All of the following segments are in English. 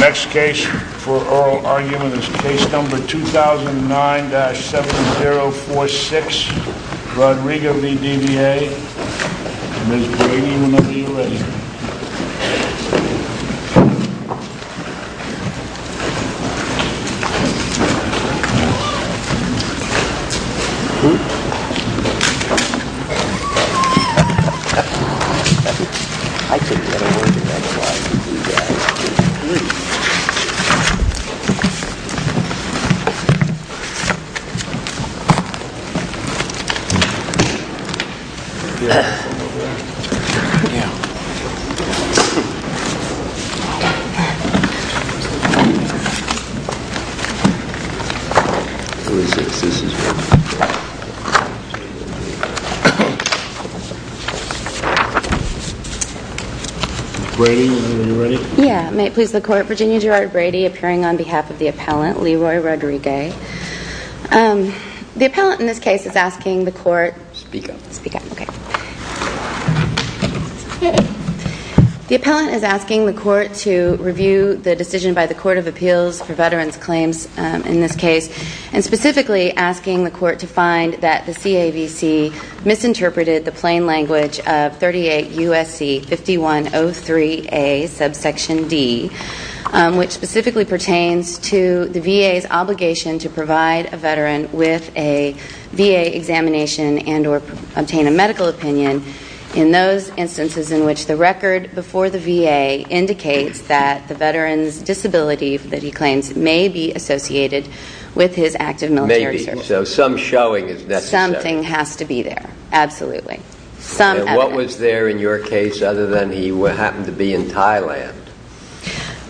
Next case for oral argument is case number 2009-7046, Rodrigo v. DVA. Ms. Brady, whenever you're ready. Ms. Brady, whenever you're ready. Yeah, may it please the court, Virginia Gerard Brady appearing on behalf of the appellant, Leroy Rodrigue. The appellant in this case is asking the court... Speak up. Speak up, okay. The appellant is asking the court to review the decision by the Court of Appeals for veterans claims in this case and specifically asking the court to find that the CAVC misinterpreted the plain language of 38 U.S.C. 5103A, subsection D, which specifically pertains to the VA's obligation to provide a veteran with a VA examination and or obtain a medical opinion in those instances in which the record before the VA indicates that the veteran's disability that he claims may be associated with his active military service. Maybe, so some showing is necessary. Something has to be there, absolutely. What was there in your case other than he happened to be in Thailand?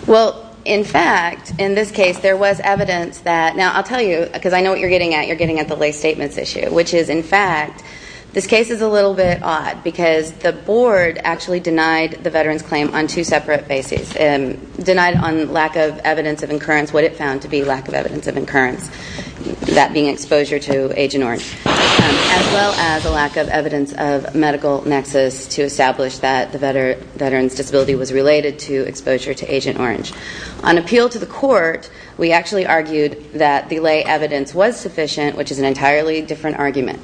Well, in fact, in this case, there was evidence that... Now, I'll tell you, because I know what you're getting at. You're getting at the lay statements issue, which is, in fact, this case is a little bit odd because the board actually denied the veteran's claim on two separate bases. Denied on lack of evidence of incurrence, what it found to be lack of evidence of incurrence, that being exposure to Agent Orange, as well as a lack of evidence of medical nexus to establish that the veteran's disability was related to exposure to Agent Orange. On appeal to the court, we actually argued that the lay evidence was sufficient, which is an entirely different argument.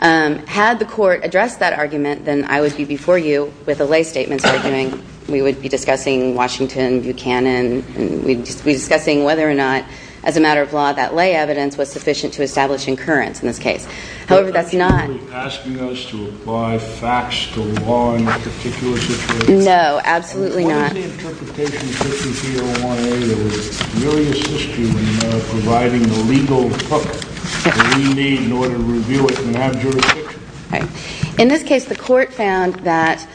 Had the court addressed that argument, then I would be before you with a lay statements argument. We would be discussing Washington, Buchanan, and we'd be discussing whether or not, as a matter of law, that lay evidence was sufficient to establish incurrence in this case. However, that's not... You're asking us to apply facts to law in a particular situation? No, absolutely not. In this case, the court found that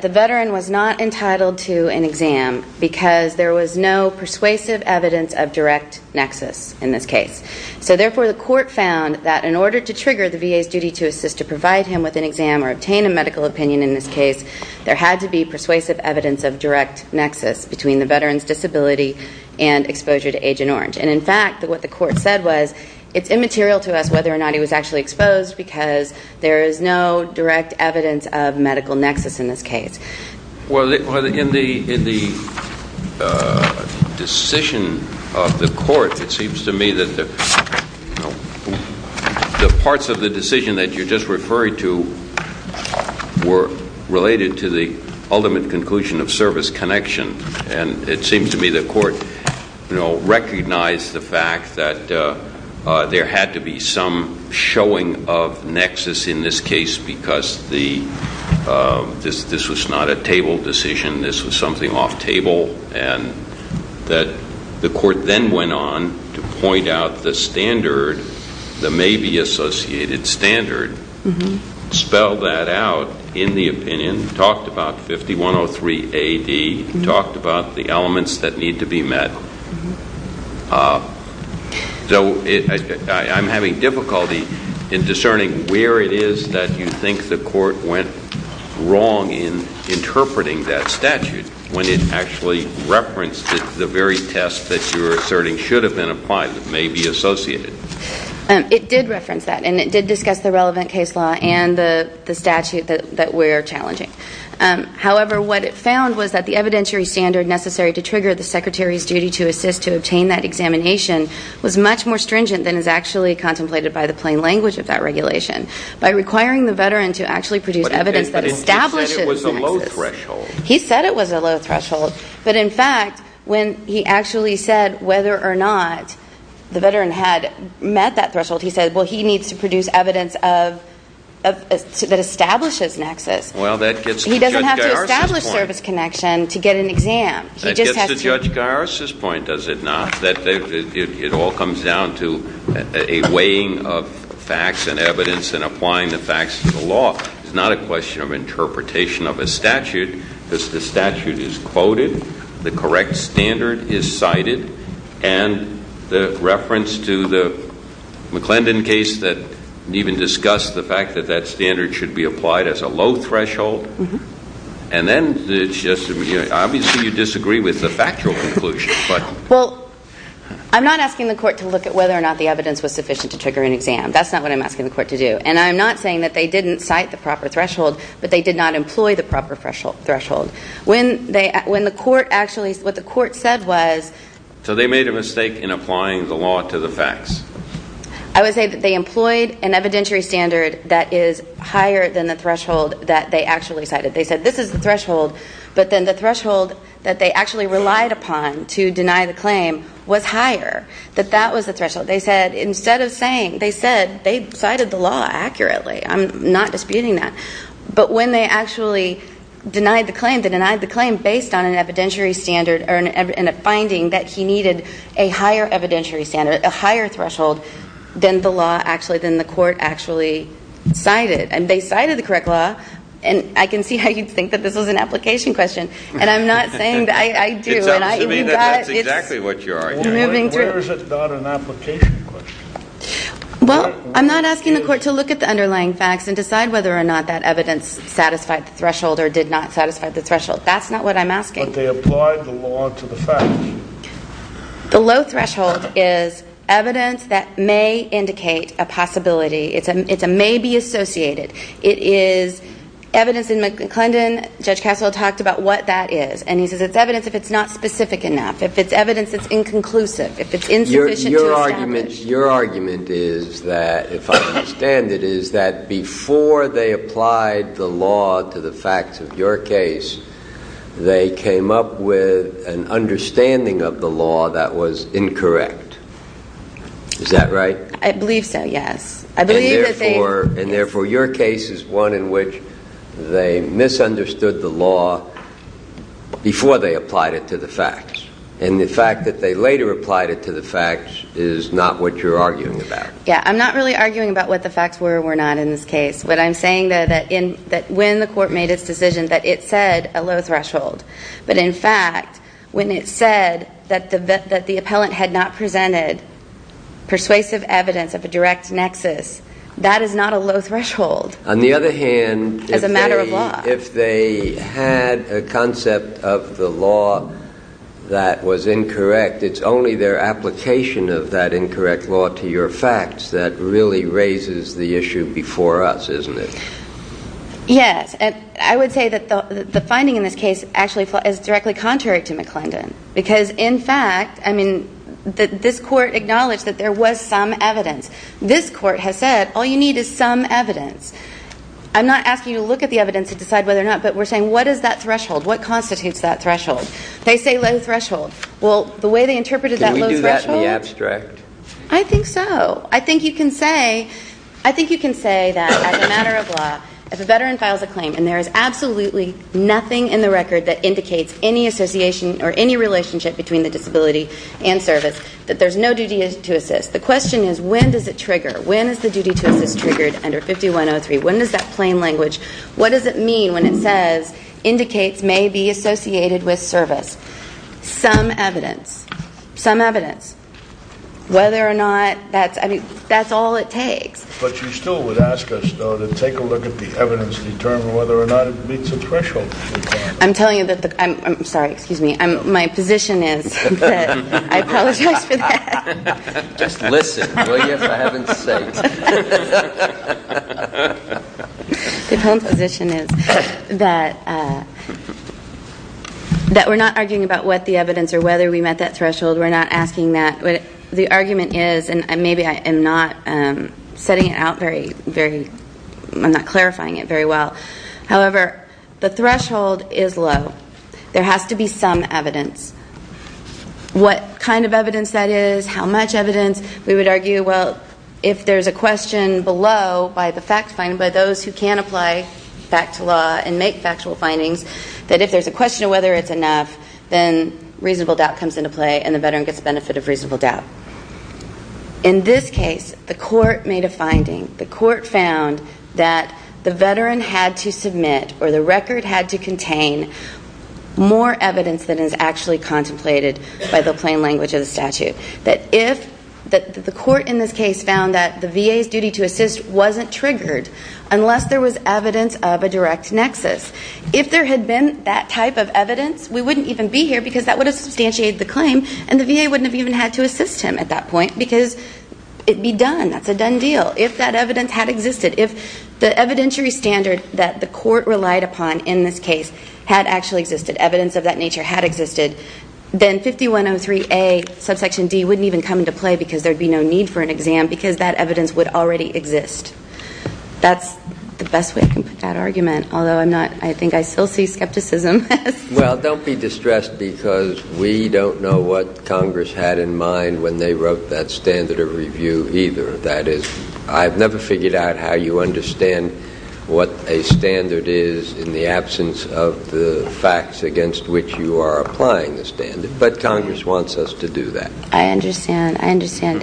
the veteran was not entitled to an exam because there was no persuasive evidence of direct nexus in this case. So, therefore, the court found that in order to trigger the VA's duty to assist to provide him with an exam or obtain a medical opinion in this case, there had to be persuasive evidence of direct nexus between the veteran's disability and exposure to Agent Orange. And, in fact, what the court said was, it's immaterial to us whether or not he was actually exposed because there is no direct evidence of medical nexus in this case. Well, in the decision of the court, it seems to me that the parts of the decision that you're just referring to were related to the ultimate conclusion of service connection. And it seems to me the court, you know, recognized the fact that there had to be some showing of nexus in this case because this was not a table decision. This was something off table and that the court then went on to point out the standard, the maybe associated standard, spelled that out in the opinion, talked about 5103 AD, talked about the elements that need to be met. So, I'm having difficulty in discerning where it is that you think the court went wrong in interpreting that statute when it actually referenced the very test that you're asserting should have been applied, that may be associated. It did reference that and it did discuss the relevant case law and the statute that we're challenging. However, what it found was that the evidentiary standard necessary to trigger the secretary's duty to assist to obtain that examination was much more stringent than is actually contemplated by the plain language of that regulation. By requiring the veteran to actually produce evidence that establishes nexus. But he said it was a low threshold. He said it was a low threshold. But in fact, when he actually said whether or not the veteran had met that threshold, he said, well, he needs to produce evidence that establishes nexus. Well, that gets to Judge Garris' point. He doesn't have to establish service connection to get an exam. That gets to Judge Garris' point, does it not? It all comes down to a weighing of facts and evidence and applying the facts to the law. It's not a question of interpretation of a statute. The statute is quoted. The correct standard is cited. And the reference to the McClendon case that even discussed the fact that that standard should be applied as a low threshold. And then it's just, obviously you disagree with the factual conclusion. Well, I'm not asking the court to look at whether or not the evidence was sufficient to trigger an exam. That's not what I'm asking the court to do. And I'm not saying that they didn't cite the proper threshold, but they did not employ the proper threshold. When the court actually, what the court said was. So they made a mistake in applying the law to the facts. I would say that they employed an evidentiary standard that is higher than the threshold that they actually cited. They said this is the threshold, but then the threshold that they actually relied upon to deny the claim was higher. That that was the threshold. They said instead of saying, they said they cited the law accurately. I'm not disputing that. But when they actually denied the claim, they denied the claim based on an evidentiary standard and a finding that he needed a higher evidentiary standard, a higher threshold than the law actually, than the court actually cited. And they cited the correct law. And I can see how you'd think that this was an application question. And I'm not saying that. I do. It's up to me that that's exactly what you're arguing. Where is it not an application question? Well, I'm not asking the court to look at the underlying facts and decide whether or not that evidence satisfied the threshold or did not satisfy the threshold. That's not what I'm asking. But they applied the law to the facts. The low threshold is evidence that may indicate a possibility. It's a may be associated. It is evidence in McClendon. Judge Cassel talked about what that is. And he says it's evidence if it's not specific enough. If it's evidence that's inconclusive. If it's insufficient to establish. Your argument is that, if I understand it, is that before they applied the law to the facts of your case, they came up with an understanding of the law that was incorrect. Is that right? I believe so, yes. And, therefore, your case is one in which they misunderstood the law before they applied it to the facts. And the fact that they later applied it to the facts is not what you're arguing about. Yeah, I'm not really arguing about what the facts were or were not in this case. What I'm saying, though, that when the court made its decision, that it said a low threshold. But, in fact, when it said that the appellant had not presented persuasive evidence of a direct nexus, that is not a low threshold as a matter of law. On the other hand, if they had a concept of the law that was incorrect, it's only their application of that incorrect law to your facts that really raises the issue before us, isn't it? Yes. And I would say that the finding in this case actually is directly contrary to McClendon. Because, in fact, I mean, this court acknowledged that there was some evidence. This court has said, all you need is some evidence. I'm not asking you to look at the evidence to decide whether or not, but we're saying, what is that threshold? What constitutes that threshold? They say low threshold. Well, the way they interpreted that low threshold. Can we do that in the abstract? I think so. I think you can say that, as a matter of law, if a veteran files a claim and there is absolutely nothing in the record that indicates any association or any relationship between the disability and service, that there's no duty to assist. The question is, when does it trigger? When is the duty to assist triggered under 5103? When does that plain language, what does it mean when it says indicates may be associated with service? Some evidence. Some evidence. Whether or not that's, I mean, that's all it takes. But you still would ask us, though, to take a look at the evidence and determine whether or not it meets the threshold. I'm telling you that the, I'm sorry, excuse me. My position is that, I apologize for that. Just listen, will you, for heaven's sake. The poem's position is that we're not arguing about what the evidence or whether we met that threshold. We're not asking that. The argument is, and maybe I am not setting it out very, very, I'm not clarifying it very well. However, the threshold is low. There has to be some evidence. What kind of evidence that is, how much evidence, we would argue, well, if there's a question below by the fact finder, by those who can apply fact to law and make factual findings, that if there's a question of whether it's enough, then reasonable doubt comes into play and the veteran gets the benefit of reasonable doubt. In this case, the court made a finding. The court found that the veteran had to submit or the record had to contain more evidence than is actually contemplated by the plain language of the statute. That if, the court in this case found that the VA's duty to assist wasn't triggered unless there was evidence of a direct nexus. If there had been that type of evidence, we wouldn't even be here because that would have substantiated the claim and the VA wouldn't have even had to assist him at that point because it would be done. That's a done deal. If that evidence had existed, if the evidentiary standard that the court relied upon in this case had actually existed, evidence of that nature had existed, then 5103A subsection D wouldn't even come into play because there would be no need for an exam because that evidence would already exist. That's the best way I can put that argument, although I think I still see skepticism. Well, don't be distressed because we don't know what Congress had in mind when they wrote that standard of review either. That is, I've never figured out how you understand what a standard is in the absence of the facts against which you are applying the standard, but Congress wants us to do that. I understand. I understand.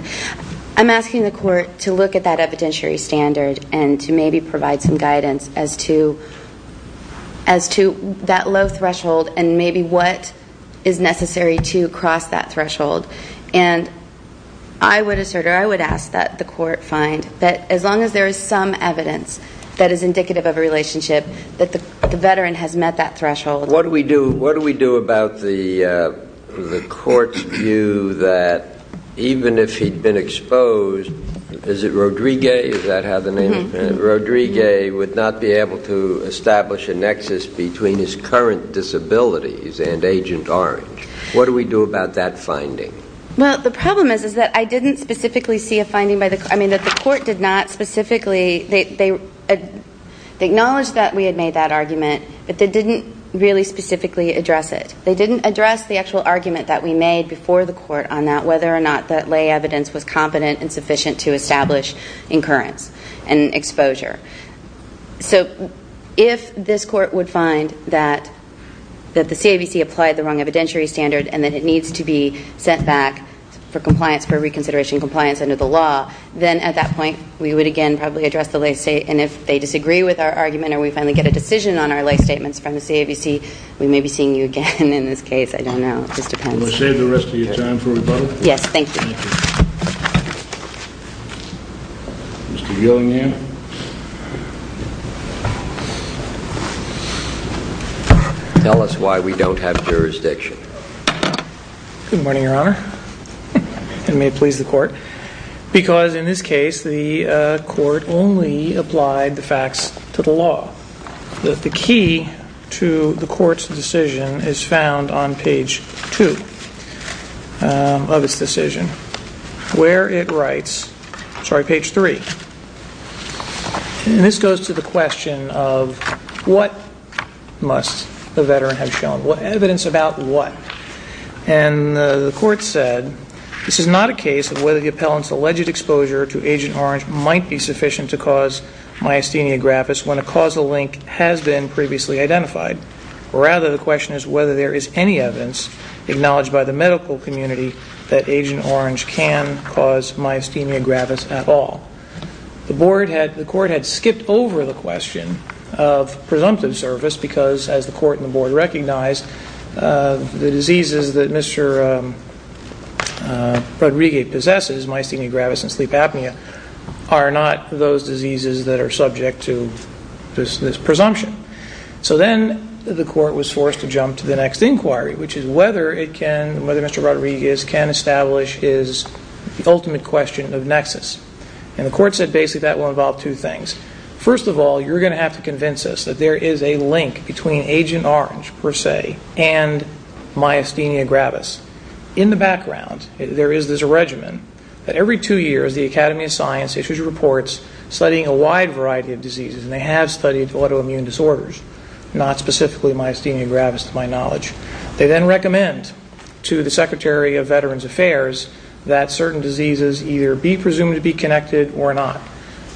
I'm asking the court to look at that evidentiary standard and to maybe provide some guidance as to that low threshold and maybe what is necessary to cross that threshold. And I would assert or I would ask that the court find that as long as there is some evidence that is indicative of a relationship, that the veteran has met that threshold. What do we do about the court's view that even if he'd been exposed, is it Rodriguez, is that how the name is? Rodriguez would not be able to establish a nexus between his current disabilities and Agent Orange. What do we do about that finding? Well, the problem is that I didn't specifically see a finding by the court. I mean, the court did not specifically. They acknowledged that we had made that argument, but they didn't really specifically address it. They didn't address the actual argument that we made before the court on that, whether or not that lay evidence was competent and sufficient to establish incurrence and exposure. So if this court would find that the CABC applied the wrong evidentiary standard and that it needs to be sent back for compliance, for reconsideration compliance under the law, then at that point we would again probably address the lay state. And if they disagree with our argument or we finally get a decision on our lay statements from the CABC, we may be seeing you again in this case. I don't know. It just depends. Can I save the rest of your time for rebuttal? Yes. Thank you. Mr. Gillingham. Tell us why we don't have jurisdiction. Good morning, Your Honor. And may it please the court. Because in this case the court only applied the facts to the law. The key to the court's decision is found on page 2 of its decision, where it writes, sorry, page 3. And this goes to the question of what must the veteran have shown, evidence about what. And the court said, this is not a case of whether the appellant's alleged exposure to Agent Orange might be sufficient to cause myasthenia gravis when a causal link has been previously identified. Rather, the question is whether there is any evidence acknowledged by the medical community that Agent Orange can cause myasthenia gravis at all. The court had skipped over the question of presumptive service because, as the court and the board recognized, the diseases that Mr. Rodriguez possesses, myasthenia gravis and sleep apnea, are not those diseases that are subject to this presumption. So then the court was forced to jump to the next inquiry, which is whether it can, whether Mr. Rodriguez can establish his ultimate question of nexus. And the court said basically that will involve two things. First of all, you're going to have to convince us that there is a link between Agent Orange, per se, and myasthenia gravis. In the background, there is this regimen that every two years the Academy of Science issues reports studying a wide variety of diseases, and they have studied autoimmune disorders, not specifically myasthenia gravis to my knowledge. They then recommend to the Secretary of Veterans Affairs that certain diseases either be presumed to be connected or not.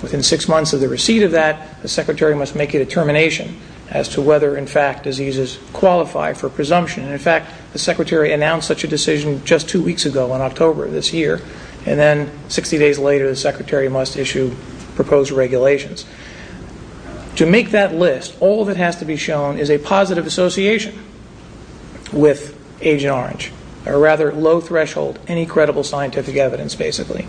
Within six months of the receipt of that, the Secretary must make a determination as to whether, in fact, diseases qualify for presumption. In fact, the Secretary announced such a decision just two weeks ago, in October of this year, and then 60 days later the Secretary must issue proposed regulations. To make that list, all that has to be shown is a positive association with Agent Orange, or rather low threshold, any credible scientific evidence, basically.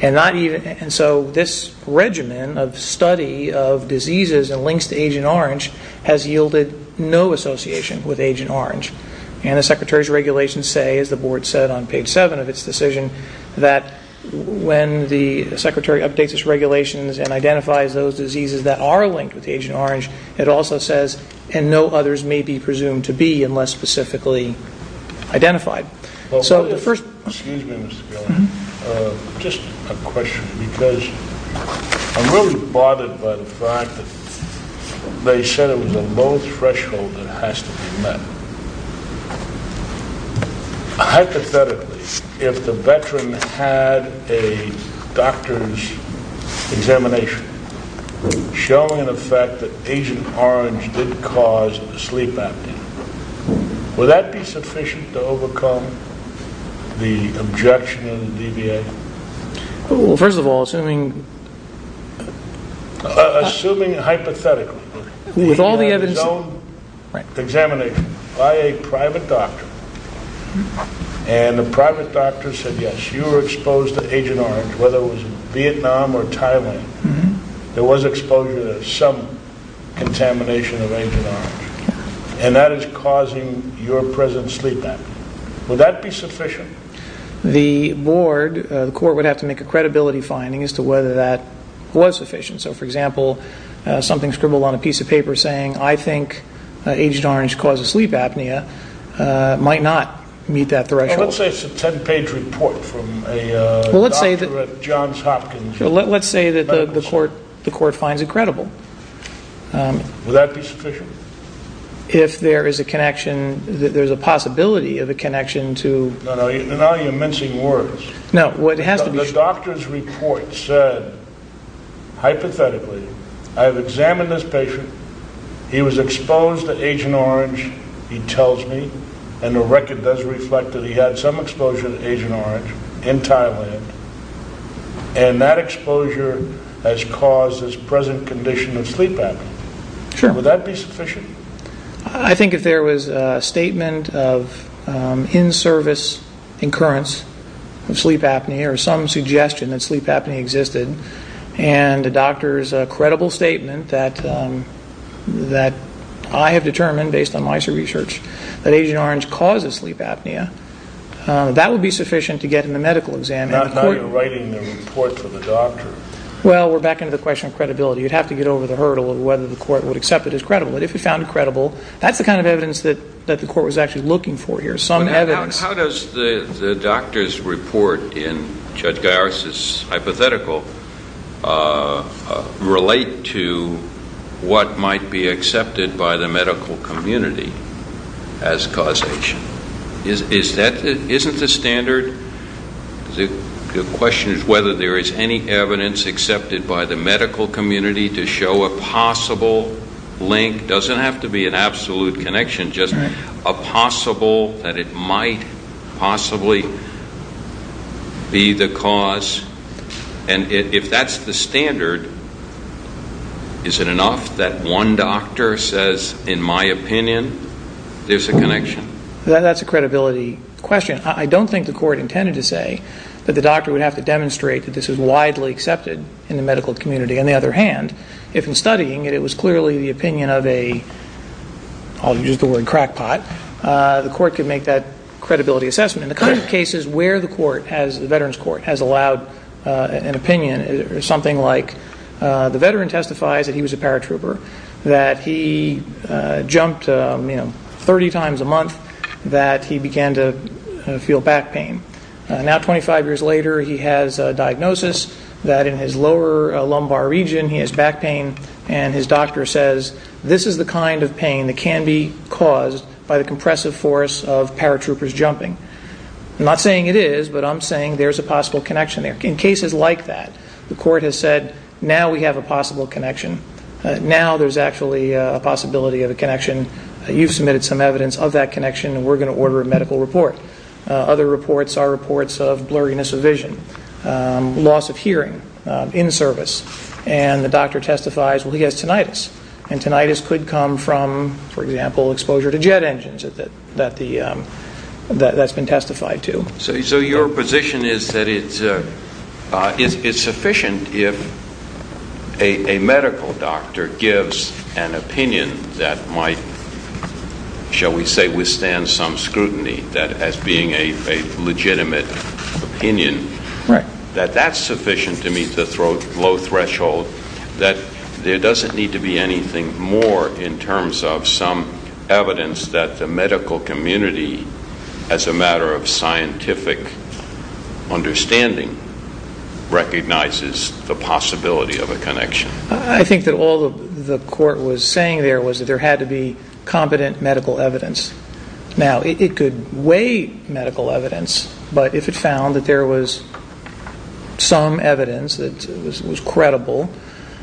And so this regimen of study of diseases and links to Agent Orange has yielded no association with Agent Orange. And the Secretary's regulations say, as the board said on page seven of its decision, that when the Secretary updates its regulations and identifies those diseases that are linked with Agent Orange, it also says, and no others may be presumed to be unless specifically identified. Excuse me, Mr. Gellin. Just a question, because I'm really bothered by the fact that they said it was a low threshold that has to be met. Hypothetically, if the veteran had a doctor's examination showing an effect that Agent Orange did cause a sleep apnea, would that be sufficient to overcome the objection in the DBA? Well, first of all, assuming... Assuming hypothetically. He had his own examination by a private doctor, and the private doctor said, yes, you were exposed to Agent Orange, whether it was in Vietnam or Thailand, there was exposure to some contamination of Agent Orange. And that is causing your present sleep apnea. Would that be sufficient? The board, the court, would have to make a credibility finding as to whether that was sufficient. So, for example, something scribbled on a piece of paper saying, I think Agent Orange causes sleep apnea might not meet that threshold. Let's say it's a ten-page report from a doctor at Johns Hopkins. Let's say that the court finds it credible. Would that be sufficient? If there is a connection, there's a possibility of a connection to... No, no, you're mincing words. No, what has to be... The doctor's report said, hypothetically, I've examined this patient, he was exposed to Agent Orange, he tells me, and the record does reflect that he had some exposure to Agent Orange in Thailand, and that exposure has caused his present condition of sleep apnea. Sure. Would that be sufficient? I think if there was a statement of in-service incurrence of sleep apnea or some suggestion that sleep apnea existed, and the doctor's credible statement that I have determined, based on my research, that Agent Orange causes sleep apnea, that would be sufficient to get him a medical exam. Not now you're writing the report for the doctor. Well, we're back into the question of credibility. You'd have to get over the hurdle of whether the court would accept it as credible. But if it found it credible, that's the kind of evidence that the court was actually looking for here, some evidence. How does the doctor's report in Judge Garris' hypothetical relate to what might be accepted by the medical community as causation? Isn't the standard? The question is whether there is any evidence accepted by the medical community to show a possible link. It doesn't have to be an absolute connection, just a possible that it might possibly be the cause. And if that's the standard, is it enough that one doctor says, in my opinion, there's a connection? That's a credibility question. I don't think the court intended to say that the doctor would have to demonstrate that this is widely accepted in the medical community. On the other hand, if in studying it, it was clearly the opinion of a I'll use the word crackpot, the court could make that credibility assessment. And the kind of cases where the veterans' court has allowed an opinion, something like the veteran testifies that he was a paratrooper, that he jumped 30 times a month, that he began to feel back pain. Now, 25 years later, he has a diagnosis that in his lower lumbar region, he has back pain, and his doctor says, this is the kind of pain that can be caused by the compressive force of paratroopers jumping. I'm not saying it is, but I'm saying there's a possible connection there. In cases like that, the court has said, now we have a possible connection. Now there's actually a possibility of a connection. You've submitted some evidence of that connection, and we're going to order a medical report. Other reports are reports of blurriness of vision, loss of hearing in service, and the doctor testifies, well, he has tinnitus. And tinnitus could come from, for example, exposure to jet engines that's been testified to. So your position is that it's sufficient if a medical doctor gives an opinion that might, shall we say, withstand some scrutiny, that as being a legitimate opinion, that that's sufficient to meet the low threshold, that there doesn't need to be anything more in terms of some evidence that the medical community, as a matter of scientific understanding, recognizes the possibility of a connection. I think that all the court was saying there was that there had to be competent medical evidence. Now, it could weigh medical evidence, but if it found that there was some evidence that was credible,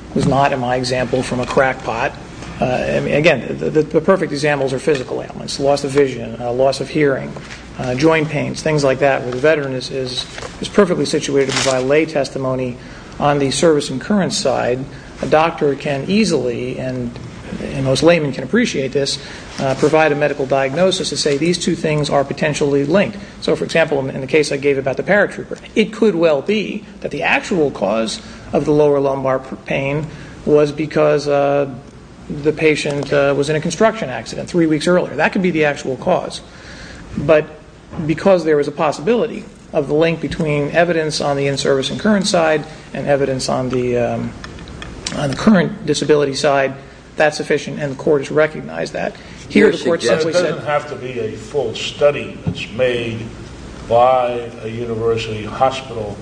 it was not, in my example, from a crackpot. Again, the perfect examples are physical ailments, loss of vision, loss of hearing, joint pains, things like that where the veteran is perfectly situated to provide lay testimony. On the service incurrence side, a doctor can easily, and most laymen can appreciate this, provide a medical diagnosis to say these two things are potentially linked. So, for example, in the case I gave about the paratrooper, it could well be that the actual cause of the lower lumbar pain was because the patient was in a construction accident three weeks earlier. That could be the actual cause. But because there was a possibility of the link between evidence on the in-service incurrence side and evidence on the current disability side, that's sufficient, and the court has recognized that. It doesn't have to be a full study that's made by a university hospital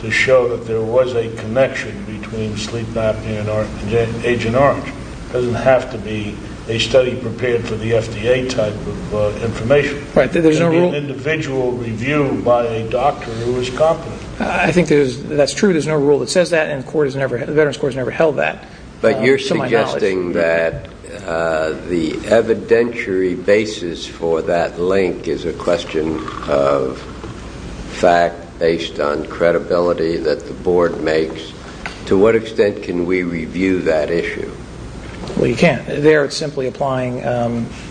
to show that there was a connection between sleep apnea and Agent Orange. It doesn't have to be a study prepared for the FDA type of information. It can be an individual review by a doctor who is competent. I think that's true. There's no rule that says that, and the Veterans Court has never held that to my knowledge. You're suggesting that the evidentiary basis for that link is a question of fact based on credibility that the board makes. To what extent can we review that issue? Well, you can't. There, it's simply applying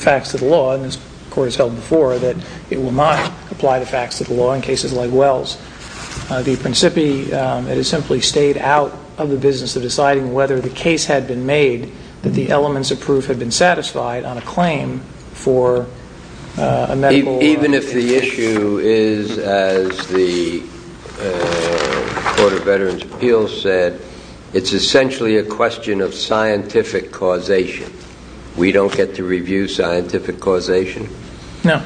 facts to the law, and this court has held before that it will not apply the facts to the law in cases like Wells. The principi, it has simply stayed out of the business of deciding whether the case had been made that the elements of proof had been satisfied on a claim for a medical instance. Even if the issue is, as the Court of Veterans Appeals said, it's essentially a question of scientific causation. We don't get to review scientific causation? No.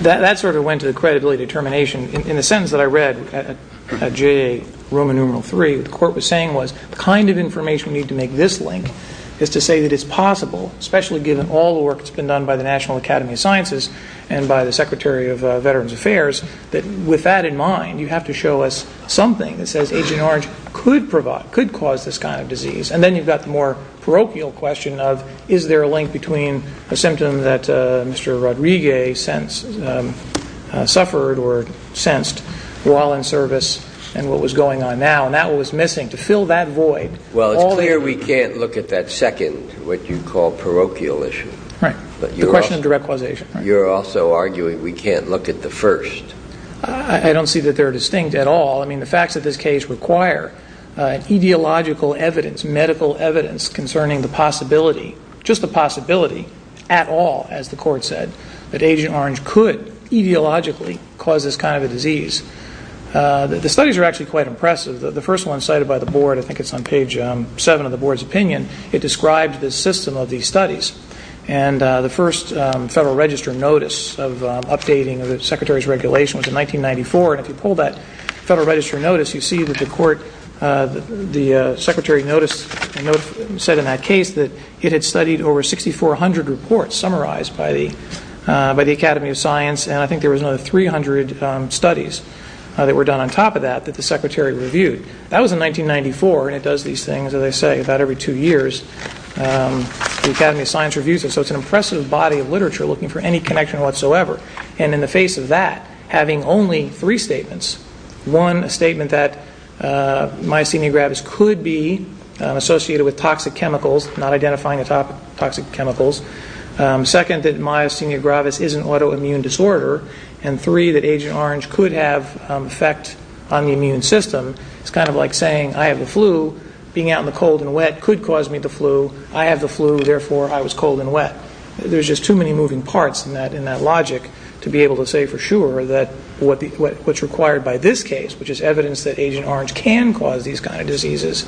That sort of went to the credibility determination. In the sentence that I read at JA Roman numeral three, what the court was saying was the kind of information we need to make this link is to say that it's possible, especially given all the work that's been done by the National Academy of Sciences and by the Secretary of Veterans Affairs, that with that in mind, you have to show us something that says Agent Orange could cause this kind of disease. And then you've got the more parochial question of, is there a link between a symptom that Mr. Rodriguez suffered or sensed while in service and what was going on now? And that was missing. To fill that void. Well, it's clear we can't look at that second, what you call parochial issue. Right. The question of direct causation. You're also arguing we can't look at the first. I don't see that they're distinct at all. I mean, the facts of this case require ideological evidence, medical evidence concerning the possibility, just the possibility at all, as the court said, that Agent Orange could etiologically cause this kind of a disease. The studies are actually quite impressive. The first one cited by the board, I think it's on page seven of the board's opinion, it described the system of these studies. And the first Federal Register notice of updating the Secretary's regulation was in 1994. And if you pull that Federal Register notice, you see that the court, the Secretary's notice said in that case that it had studied over 6,400 reports summarized by the Academy of Science. And I think there was another 300 studies that were done on top of that that the Secretary reviewed. That was in 1994. And it does these things, as I say, about every two years. The Academy of Science reviews it. So it's an impressive body of literature looking for any connection whatsoever. And in the face of that, having only three statements. One, a statement that myasthenia gravis could be associated with toxic chemicals, not identifying the toxic chemicals. Second, that myasthenia gravis is an autoimmune disorder. And three, that Agent Orange could have effect on the immune system. It's kind of like saying, I have the flu. Being out in the cold and wet could cause me the flu. I have the flu, therefore I was cold and wet. There's just too many moving parts in that logic to be able to say for sure that what's required by this case, which is evidence that Agent Orange can cause these kind of diseases,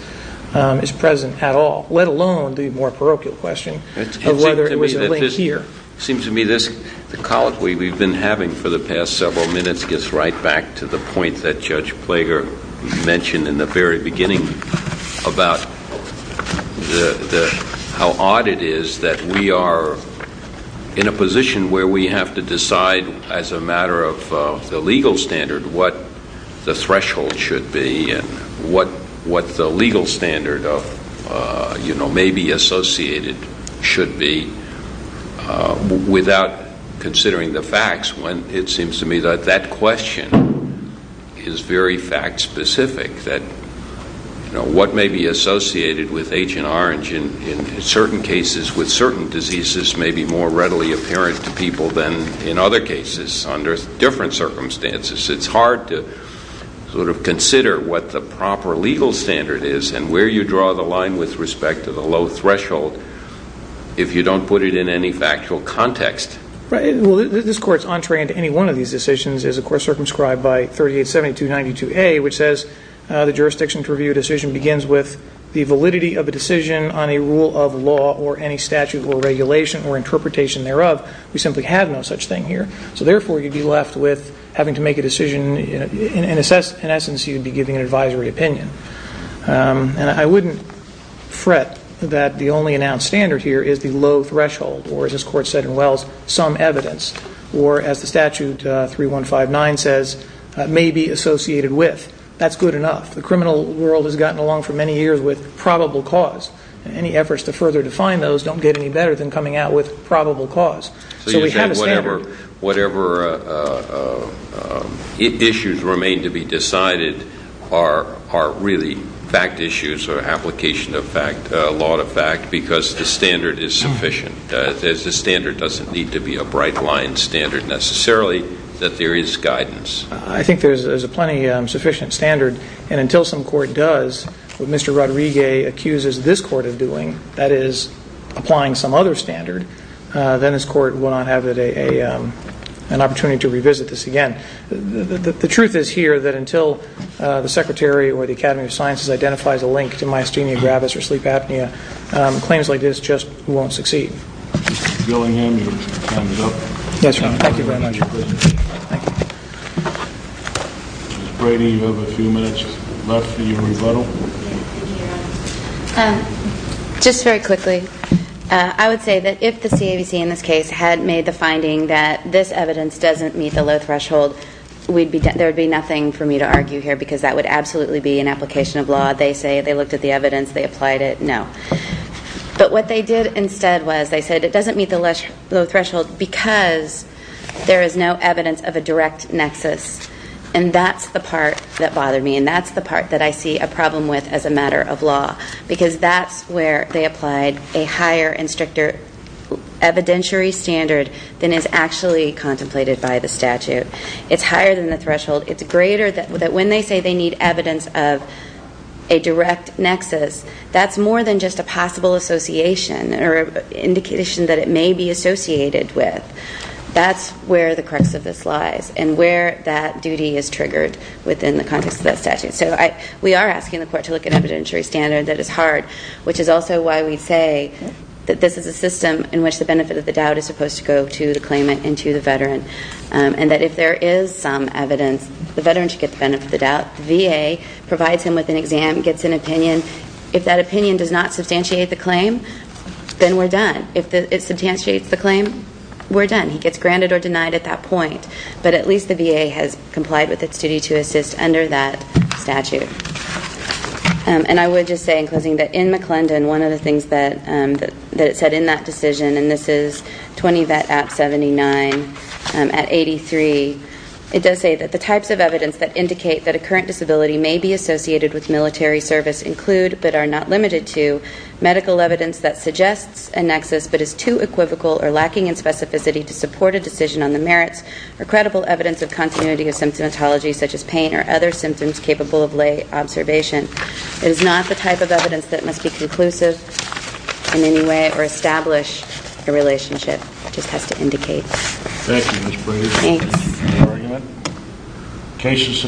is present at all, let alone the more parochial question of whether it was a link here. It seems to me the colloquy we've been having for the past several minutes gets right back to the point that Judge Plager mentioned in the very beginning about how odd it is that we are in a position where we have to decide, as a matter of the legal standard, what the threshold should be and what the legal standard may be associated should be, without considering the facts when it seems to me that that question is very fact-specific, that what may be associated with Agent Orange in certain cases with certain diseases may be more readily apparent to people than in other cases under different circumstances. It's hard to sort of consider what the proper legal standard is and where you draw the line with respect to the low threshold if you don't put it in any factual context. Right. Well, this Court's entree into any one of these decisions is, of course, circumscribed by 387292A, which says the jurisdiction to review a decision begins with the validity of a decision on a rule of law or any statute or regulation or interpretation thereof. We simply have no such thing here. So, therefore, you'd be left with having to make a decision. In essence, you'd be giving an advisory opinion. And I wouldn't fret that the only announced standard here is the low threshold or, as this Court said in Wells, some evidence or, as the statute 3159 says, may be associated with. That's good enough. The criminal world has gotten along for many years with probable cause. Any efforts to further define those don't get any better than coming out with probable cause. So we have a standard. Whatever issues remain to be decided are really fact issues or application of fact, law to fact, because the standard is sufficient. The standard doesn't need to be a bright-line standard, necessarily, that there is guidance. I think there's a plenty sufficient standard. And until some court does what Mr. Rodriguez accuses this Court of doing, that is, applying some other standard, then this Court will not have an opportunity to revisit this again. The truth is here that until the Secretary or the Academy of Sciences identifies a link to myasthenia gravis or sleep apnea, claims like this just won't succeed. Mr. Billingham, your time is up. Yes, Your Honor. Thank you very much. Thank you. Ms. Brady, you have a few minutes left for your rebuttal. Thank you, Your Honor. Just very quickly, I would say that if the CABC in this case had made the finding that this evidence doesn't meet the low threshold, there would be nothing for me to argue here because that would absolutely be an application of law. They say they looked at the evidence, they applied it. No. But what they did instead was they said it doesn't meet the low threshold because there is no evidence of a direct nexus. And that's the part that bothered me and that's the part that I see a problem with as a matter of law because that's where they applied a higher and stricter evidentiary standard than is actually contemplated by the statute. It's higher than the threshold. It's greater that when they say they need evidence of a direct nexus, that's more than just a possible association or indication that it may be associated with. That's where the crux of this lies and where that duty is triggered within the context of that statute. So we are asking the court to look at an evidentiary standard that is hard, which is also why we say that this is a system in which the benefit of the doubt is supposed to go to the claimant and to the veteran. And that if there is some evidence, the veteran should get the benefit of the doubt. The VA provides him with an exam, gets an opinion. If that opinion does not substantiate the claim, then we're done. If it substantiates the claim, we're done. He gets granted or denied at that point. But at least the VA has complied with its duty to assist under that statute. And I would just say, in closing, that in McClendon, one of the things that it said in that decision, and this is 20 Vet App 79 at 83, it does say that the types of evidence that indicate that a current disability may be associated with military service include, but are not limited to, medical evidence that suggests a nexus but is too equivocal or lacking in specificity to support a decision on the merits, or credible evidence of continuity of symptomatology such as pain or other symptoms capable of lay observation. It is not the type of evidence that must be conclusive in any way or establish a relationship. It just has to indicate. Thank you, Ms. Brewer. Thanks.